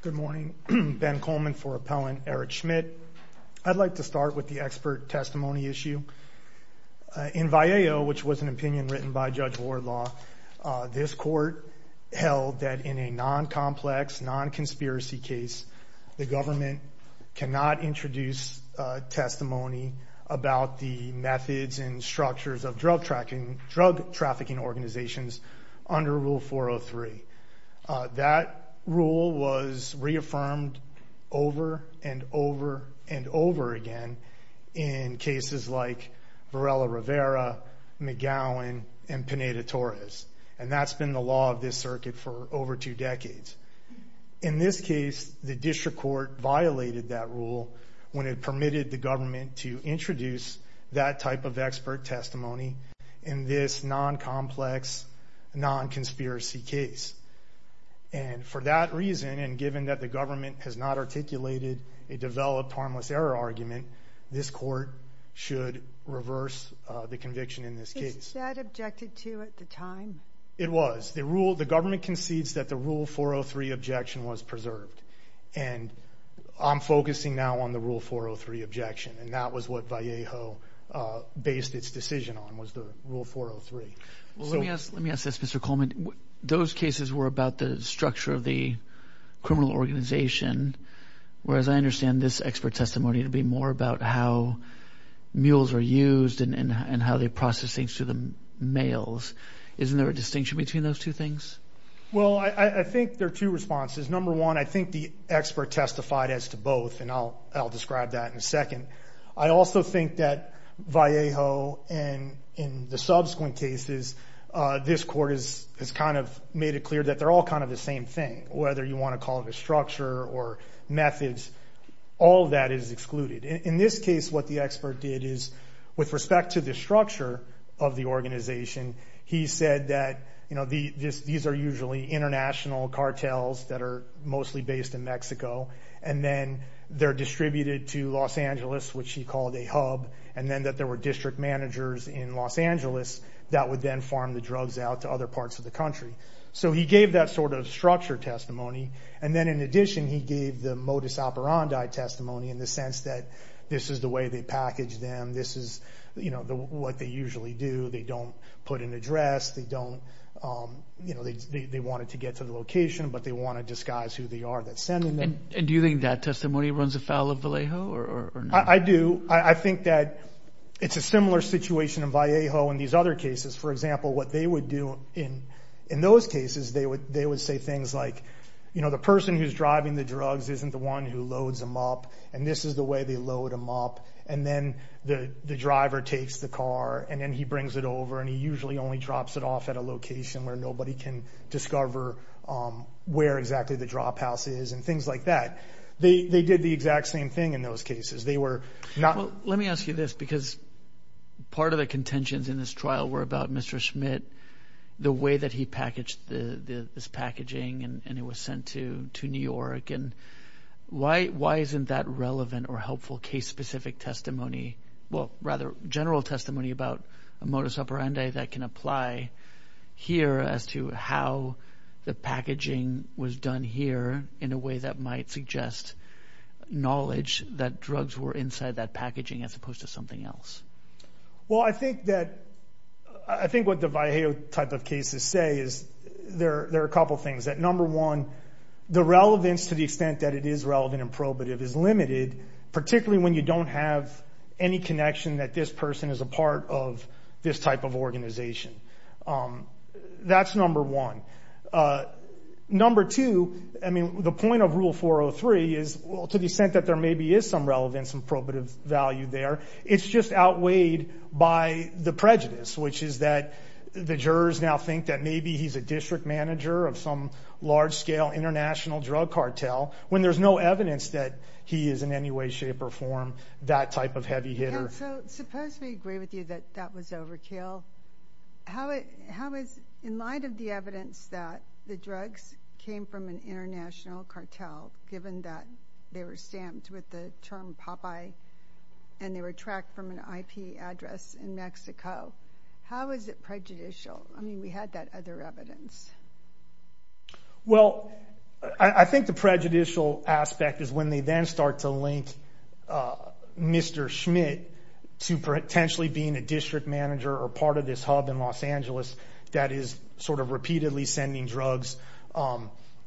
Good morning, Ben Coleman for Appellant Eric Schmidt. I'd like to start with the expert testimony issue. In Vallejo, which was an opinion written by Judge Wardlaw, this court held that in a non-complex, non-conspiracy case, the government cannot introduce testimony about the methods and structures of drug trafficking organizations under Rule 403. That rule was reaffirmed over and over and over again in cases like Varela-Rivera, McGowan, and Pineda-Torres, and that's been the law of this circuit for over two decades. In this case, the district court violated that rule when it permitted the government to introduce that type of expert testimony in this non-complex, non-conspiracy case. And for that reason, and given that the government has not articulated a developed harmless error argument, this court should reverse the conviction in this case. Is that objected to at the time? It was. The government concedes that the Rule 403 objection was preserved, and I'm focusing now on the Rule 403 objection, and that was what Vallejo based its decision on, was the Rule 403. Let me ask this, Mr. Coleman. Those cases were about the structure of the criminal organization, whereas I understand this expert testimony to be more about how mules are used and how they process things to the males. Isn't there a distinction between those two things? Well, I think there are two responses. Number one, I think the expert testified as to both, and I'll describe that in a second. I also think that Vallejo and in the subsequent cases, this court has kind of made it clear that they're all kind of the same thing, whether you want to call it a structure or methods. All of that is excluded. In this case, what the expert did is, with respect to the structure of the organization, he said that these are usually international cartels that are mostly based in Mexico, and then they're distributed to Los Angeles, which he called a hub, and then that there were district managers in Los Angeles that would then farm the drugs out to other parts of the country. So he gave that sort of structure testimony, and then in addition, he gave the modus operandi testimony in the sense that this is the way they package them. This is what they usually do. They don't put an address. They wanted to get to the location, but they want to disguise who they are that's sending them. And do you think that testimony runs afoul of Vallejo or not? I do. I think that it's a similar situation in Vallejo and these other cases. For example, what they would do in those cases, they would say things like, the person who's driving the drugs isn't the one who loads them up, and this is the way they load them up, and then the driver takes the car, and then he brings it over, and he usually only drops it off at a location where nobody can discover where exactly the drop house is, and things like that. They did the exact same thing in those cases. They were not... Let me ask you this, because part of the contentions in this trial were about Mr. Schmidt, the way that he packaged this packaging, and it was sent to New York. Why isn't that relevant or helpful case-specific testimony, well, rather general testimony about a modus operandi that can apply here as to how the packaging was done here in a way that might suggest knowledge that drugs were inside that packaging as opposed to something else? Well, I think that... I think what the Vallejo type of cases say is, there are a couple things, that number one, the relevance to the extent that it is relevant and probative is limited, particularly when you don't have any connection that this person is a part of this type of organization. That's number one. Number two, I mean, the point of Rule 403 is, well, to the extent that there maybe is some relevance and probative value there, it's just outweighed by the prejudice, which is that the jurors now think that maybe he's a district manager of some large-scale international drug cartel, when there's no evidence that he is in any way, shape, or form that type of heavy hitter. Yeah, so suppose we agree with you that that was overkill. How is, in light of the evidence that the drugs came from an international cartel, given that they were stamped with the term Popeye and they were tracked from an IP address in Mexico, how is it prejudicial? I mean, we had that other evidence. Well, I think the prejudicial aspect is when they then start to link Mr. Schmidt to potentially being a district manager or part of this hub in Los Angeles that is sort of repeatedly sending drugs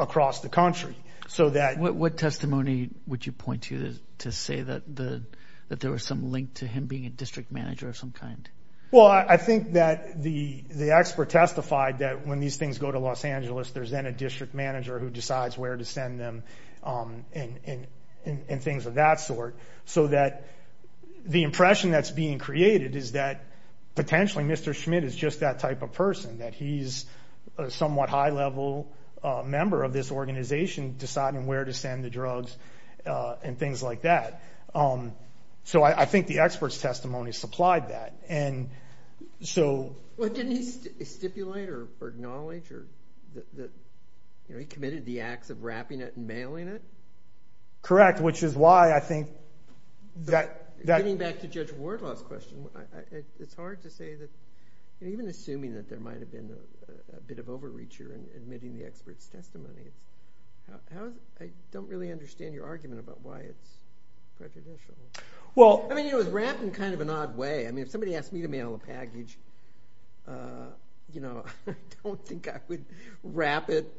across the country. What testimony would you point to to say that there was some link to him being a district manager of some kind? Well, I think that the expert testified that when these things go to Los Angeles, there's then a district manager who decides where to send them and things of that sort. So that the impression that's being created is that potentially Mr. Schmidt is just that type of person, that he's a somewhat high-level member of this organization deciding where to send the drugs and things like that. So I think the expert's testimony supplied that. Well, didn't he stipulate or acknowledge that he committed the acts of wrapping it and mailing it? Correct, which is why I think that... Getting back to Judge Wardlaw's question, it's hard to say that, even assuming that there might have been a bit of overreach here in admitting the expert's testimony, I don't really understand your argument about why it's prejudicial. Well... I mean, it was wrapped in kind of an odd way. I mean, if somebody asked me to mail a package, you know, I don't think I would wrap it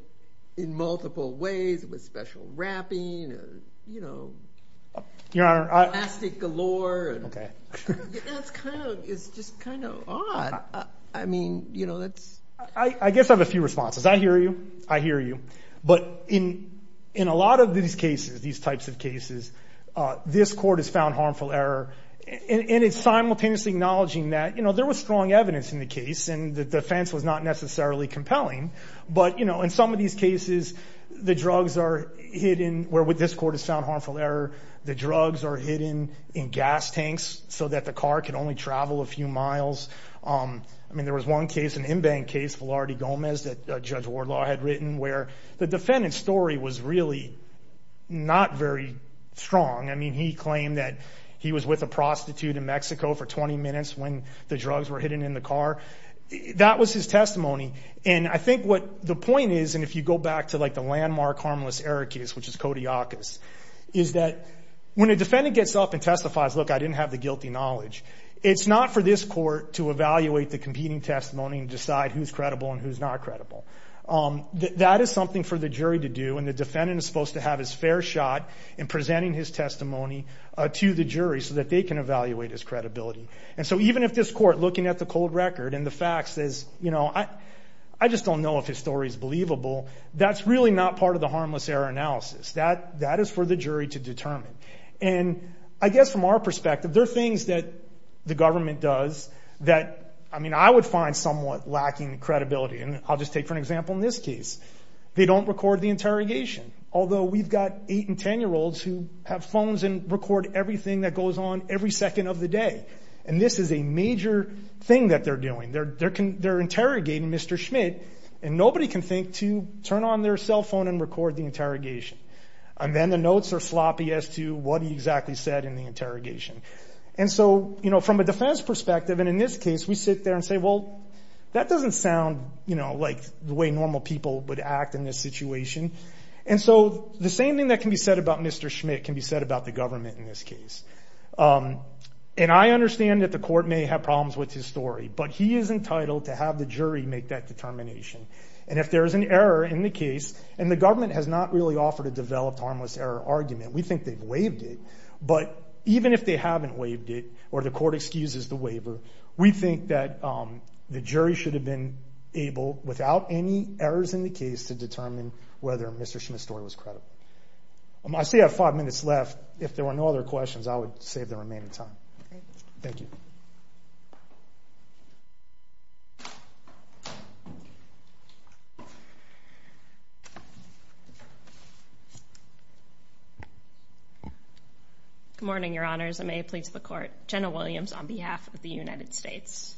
in multiple ways with special wrapping, you know, plastic galore. Okay. That's kind of... It's just kind of odd. I mean, you know, that's... I guess I have a few responses. I hear you. I hear you. But in a lot of these cases, these types of cases, this court has found harmful error. And it's simultaneously acknowledging that, you know, there was strong evidence in the case and the defense was not necessarily compelling. But, you know, in some of these cases, the drugs are hidden, where with this court has found harmful error, the drugs are hidden in gas tanks so that the car can only travel a few miles. I mean, there was one case, an in-bank case, Velarde Gomez, that Judge Wardlaw had written, where the defendant's story was really not very strong. I mean, he claimed that he was with a prostitute in Mexico for 20 minutes when the drugs were hidden in the car. That was his testimony. And I think what the point is, and if you go back to like the landmark harmless error case, which is Kodiakos, is that when a defendant gets up and testifies, look, I didn't have the guilty knowledge, it's not for this court to evaluate the competing testimony and decide who's credible and who's not credible. That is something for the jury to do. And the defendant is supposed to have his fair shot in presenting his testimony to the jury so that they can evaluate his credibility. And so even if this court, looking at the cold record and the facts, says, you know, I just don't know if his story is believable, that's really not part of the harmless error analysis. That is for the jury to determine. And I guess from our perspective, there are things that the government does that, I mean, I would find somewhat lacking credibility. And I'll just take for an example in this case. They don't record the interrogation. Although we've got 8 and 10-year-olds who have phones and record everything that goes on every second of the day. And this is a major thing that they're doing. They're interrogating Mr. Schmidt, and nobody can think to turn on their cell phone and record the interrogation. And then the notes are sloppy as to what he exactly said in the interrogation. And so, you know, from a defense perspective, and in this case, we sit there and say, well, that doesn't sound, you know, like the way normal people would act in this situation. And so the same thing that can be said about Mr. Schmidt can be said about the government in this case. And I understand that the court may have problems with his story. But he is entitled to have the jury make that determination. And if there is an error in the case, and the government has not really offered a developed harmless error argument, we think they've waived it. But even if they haven't waived it, or the court excuses the waiver, we think that the jury should have been able, without any errors in the case, to determine whether Mr. Schmidt's story was credible. I still have five minutes left. If there were no other questions, I would save the remaining time. Thank you. Good morning, Your Honors, and may it please the court. Jenna Williams on behalf of the United States.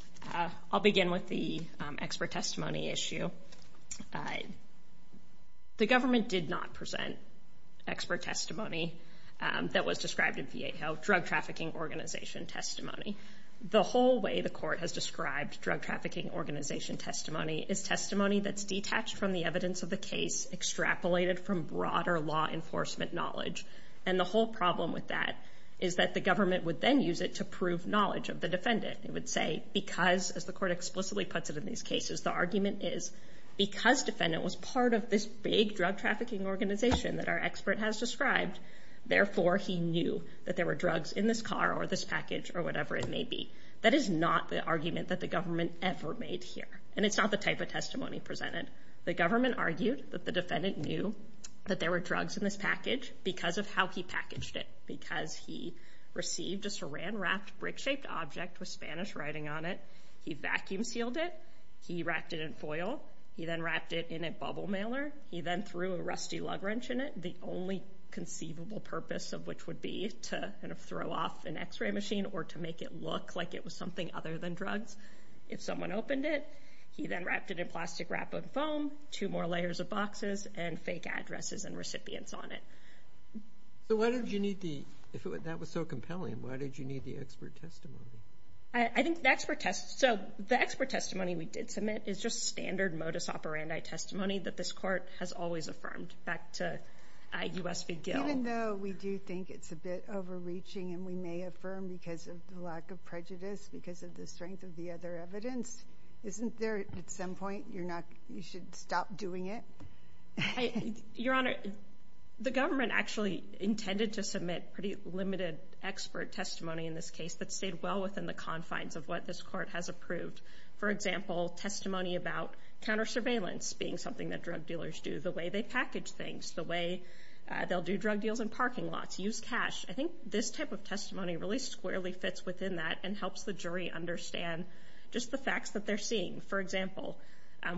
I'll begin with the expert testimony issue. The government did not present expert testimony that was described in VA Health, Drug Trafficking Organization testimony. The whole way the court has described Drug Trafficking Organization testimony is testimony that's detached from the evidence of the case, extrapolated from broader law enforcement knowledge. And the whole problem with that is that the government would then use it to prove knowledge of the defendant. It would say, because, as the court explicitly puts it in these cases, the argument is, because defendant was part of this big drug trafficking organization that our expert has described, therefore he knew that there were drugs in this car or this package or whatever it may be. That is not the argument that the government ever made here. And it's not the type of testimony presented. The government argued that the defendant knew that there were drugs in this package because of how he packaged it. Because he received a saran-wrapped brick-shaped object with Spanish writing on it, he vacuum sealed it, he wrapped it in foil, he then wrapped it in a bubble mailer, he then threw a rusty lug wrench in it, the only conceivable purpose of which would be to throw off an x-ray machine or to make it look like it was something other than drugs. If someone opened it, he then wrapped it in plastic wrap and foam, two more layers of boxes, and fake addresses and recipients on it. So why did you need the, if that was so compelling, why did you need the expert testimony? I think the expert testimony we did submit is just standard modus operandi testimony that this court has always affirmed, back to US v. Gill. Even though we do think it's a bit overreaching and we may affirm because of the lack of prejudice, because of the strength of the other evidence, isn't there, at some point, you're not, you should stop doing it? Your Honor, the government actually intended to submit pretty limited expert testimony in this case that stayed well within the confines of what this court has approved. For example, testimony about counter-surveillance being something that drug dealers do, the way they package things, the way they'll do drug deals in parking lots, use cash. I think this type of testimony really squarely fits within that and helps the jury understand just the facts that they're seeing. For example,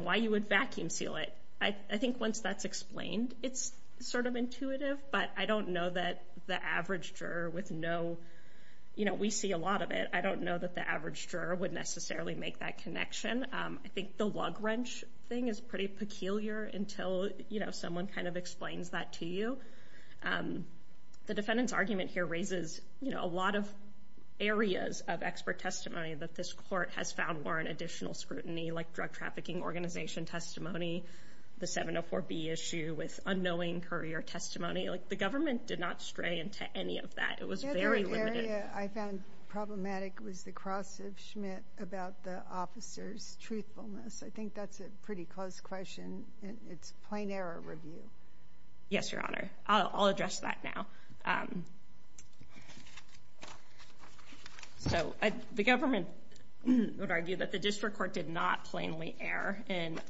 why you would vacuum seal it. I think once that's explained, it's sort of intuitive, but I don't know that the average juror with no, you know, we see a lot of it, I don't know that the average juror would necessarily make that connection. I think the lug wrench thing is pretty peculiar until, you know, someone kind of explains that to you. The defendant's argument here raises, you know, a lot of areas of expert testimony that this court has found warrant additional scrutiny, like drug trafficking organization testimony, the 704B issue with unknowing courier testimony. Like, the government did not stray into any of that. It was very limited. The area I found problematic was the cross of Schmidt about the officer's truthfulness. I think that's a pretty close question. It's plain error review. Yes, Your Honor. I'll address that now. So, the government would argue that the district court did not plainly err in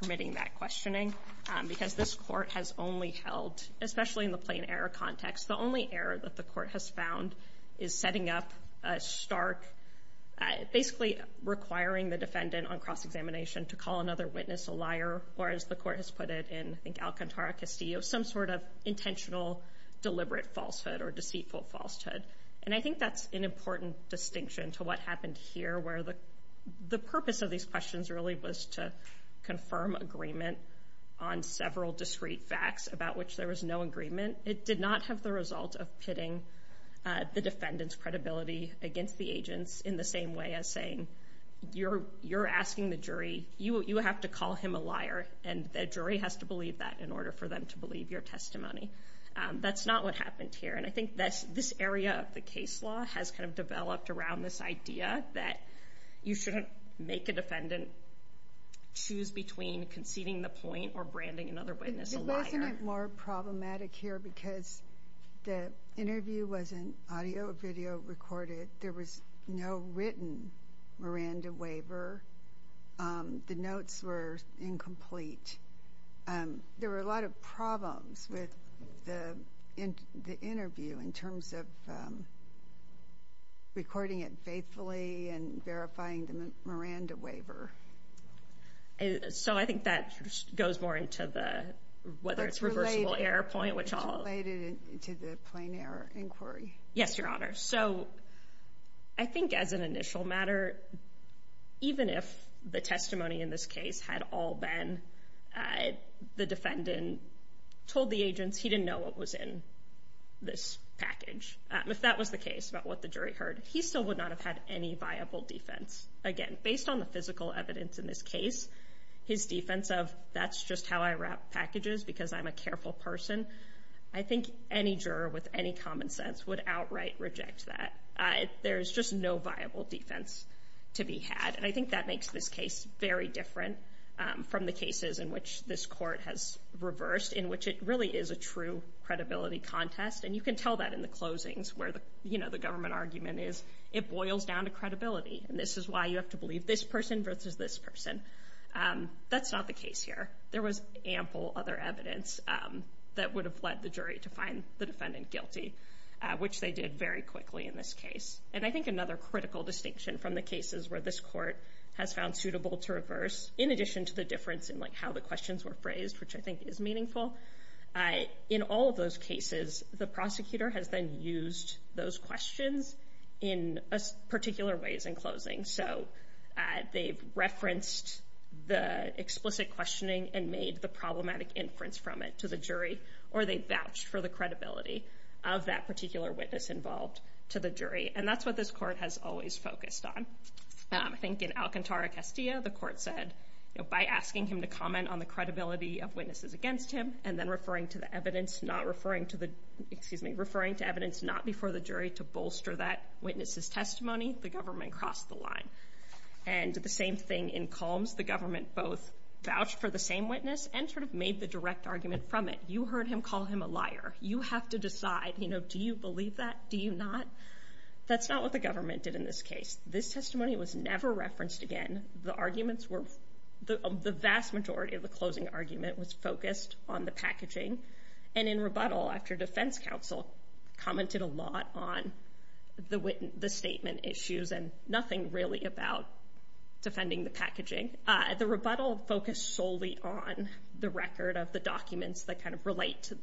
permitting that questioning because this court has only held, especially in the plain error context, the only error that the court has found is setting up a stark, basically requiring the defendant on cross-examination to call another witness a liar, or as the court has put it in, I think, Alcantara-Castillo, some sort of intentional deliberate falsehood or deceitful falsehood. And I think that's an important distinction to what happened here, where the purpose of these questions really was to confirm agreement on several discrete facts about which there was no agreement. It did not have the result of pitting the defendant's credibility against the agent's in the same way as saying, you're asking the jury, you have to call him a liar, and the jury has to believe that in order for them to believe your testimony. That's not what happened here, and I think this area of the case law has kind of developed around this idea that you shouldn't make a defendant choose between conceding the point or branding another witness a liar. Wasn't it more problematic here because the interview was an audio-video recorded? There was no written Miranda waiver. The notes were incomplete. There were a lot of problems with the interview in terms of recording it faithfully and verifying the Miranda waiver. So I think that goes more into whether it's a reversible error point. It's related to the plain error inquiry. Yes, Your Honor. So I think as an initial matter, even if the testimony in this case had all been the defendant told the agents he didn't know what was in this package, if that was the case about what the jury heard, he still would not have had any viable defense. Again, based on the physical evidence in this case, his defense of that's just how I wrap packages because I'm a careful person, I think any juror with any common sense would outright reject that. There's just no viable defense to be had. And I think that makes this case very different from the cases in which this Court has reversed, in which it really is a true credibility contest. And you can tell that in the closings where the government argument is, it boils down to credibility. And this is why you have to believe this person versus this person. That's not the case here. There was ample other evidence that would have led the jury to find the defendant guilty, which they did very quickly in this case. And I think another critical distinction from the cases where this Court has found suitable to reverse, in addition to the difference in how the questions were phrased, which I think is meaningful, in all of those cases, the prosecutor has then used those questions in particular ways in closings. So they've referenced the explicit questioning and made the problematic inference from it to the jury, or they vouched for the credibility of that particular witness involved to the jury. And that's what this Court has always focused on. I think in Alcantara-Castillo, the Court said, by asking him to comment on the credibility of witnesses against him, and then referring to the evidence, not referring to the, excuse me, of that witness's testimony, the government crossed the line. And the same thing in Combs. The government both vouched for the same witness, and sort of made the direct argument from it. You heard him call him a liar. You have to decide, you know, do you believe that? Do you not? That's not what the government did in this case. This testimony was never referenced again. The arguments were, the vast majority of the closing argument was focused on the packaging. And in rebuttal, after defense counsel commented a lot on the statement issues, and nothing really about defending the packaging, the rebuttal focused solely on the record of the documents that kind of relate to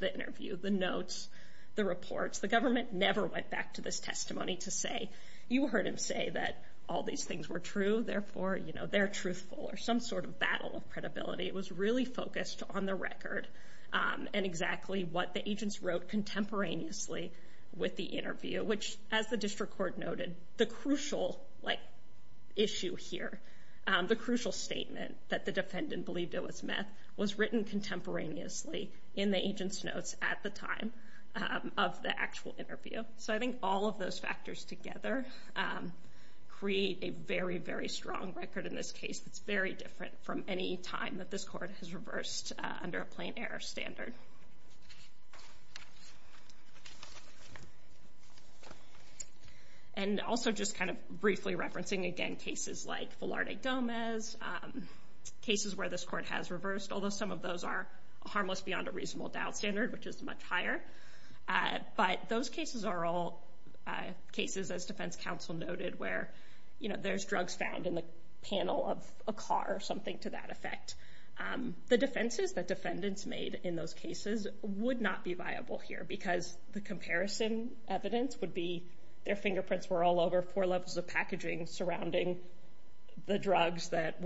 the interview. The notes, the reports. The government never went back to this testimony to say, you heard him say that all these things were true, therefore, you know, they're truthful. Or some sort of battle of credibility. It was really focused on the record, and exactly what the agents wrote contemporaneously with the interview. Which, as the district court noted, the crucial issue here, the crucial statement, that the defendant believed it was meth was written contemporaneously in the agent's notes at the time of the actual interview. So I think all of those factors together create a very, very strong record in this case that's very different from any time that this court has reversed under a plain error standard. And also just kind of briefly referencing, again, cases like Velarde Gomez, cases where this court has reversed, although some of those are harmless beyond a reasonable doubt standard, which is much higher. But those cases are all cases, as defense counsel noted, where there's drugs found in the panel of a car, or something to that effect. The defenses that defendants made in those cases would not be viable here because the comparison evidence would be their fingerprints were all over four levels of packaging surrounding the drugs that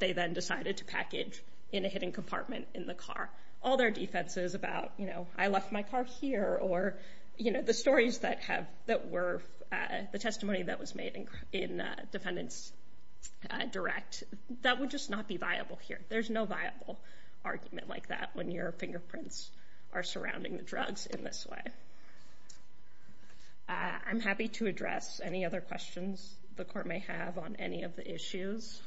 they then decided to package in a hidden compartment in the car. All their defenses about, you know, I left my car here, or the stories that were the testimony that was made in defendant's direct, that would just not be viable here. There's no viable argument like that when your fingerprints are surrounding the drugs in this way. I'm happy to address any other questions the court may have on any of the issues.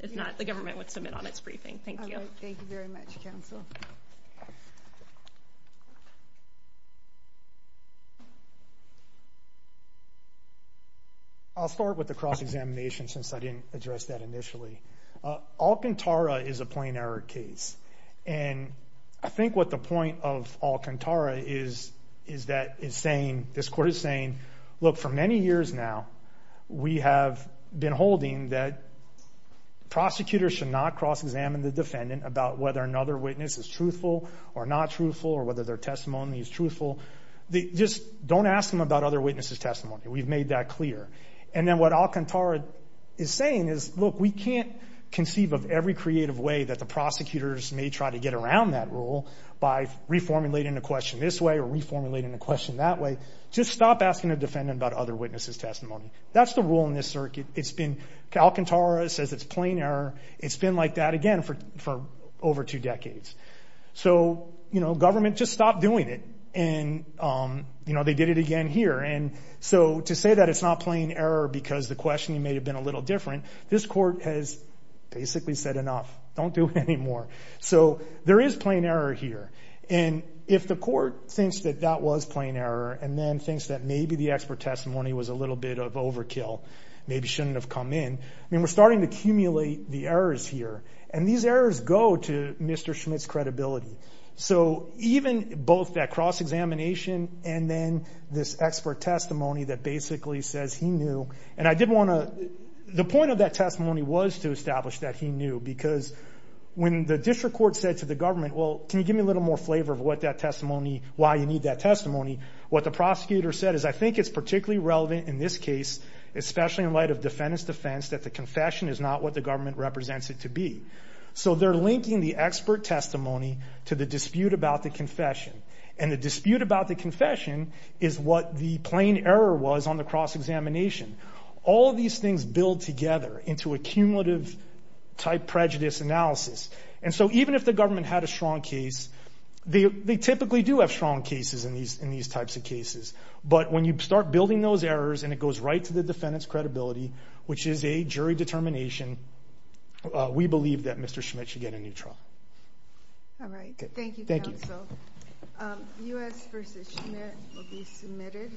If not, the government would submit on its briefing. Thank you. Thank you very much, counsel. I'll start with the cross-examination since I didn't address that initially. Alcantara is a plain error case. I think what the point of Alcantara is that it's saying, this court is saying, look, for many years now we have been holding that prosecutors should not cross-examine the defendant about whether another witness is truthful or not truthful, or whether their testimony is truthful. Don't ask them about other witnesses' testimony. We've made that clear. What Alcantara is saying is, look, we can't conceive of every creative way that the prosecutors may try to get around that rule by reformulating a question this way or reformulating a question that way. Just stop asking a defendant about other witnesses' testimony. That's the rule in this circuit. Alcantara says it's plain error. It's been like that again for over two decades. Government just stopped doing it and they did it again here. To say that it's not plain error because the questioning may have been a little different, this court has basically said enough. Don't do it anymore. There is plain error here. If the court thinks that that was plain error and then thinks that maybe the expert testimony was a little bit of overkill, maybe shouldn't have come in, we're starting to accumulate the errors here. These errors go to Mr. Schmidt's credibility. Even both that cross-examination and then this expert testimony that basically says he knew. The point of that testimony was to establish that he knew because when the district court said to the government, well, can you give me a little more flavor of what that testimony, why you need that testimony, what the prosecutor said is, I think it's particularly relevant in this case, especially in light of defendant's defense, that the confession is not what the government represents it to be. They're linking the expert testimony to the dispute about the confession. The dispute about the confession is what the plain error was on the cross-examination. All of these things build together into a cumulative type prejudice analysis. Even if the government had a strong case, they typically do have strong cases in these types of cases. When you start building those errors and it goes right to the defendant's credibility, which is a jury determination, we believe that Mr. Schmidt should get a new trial. Thank you, counsel. U.S. v. Schmidt The motion will be submitted.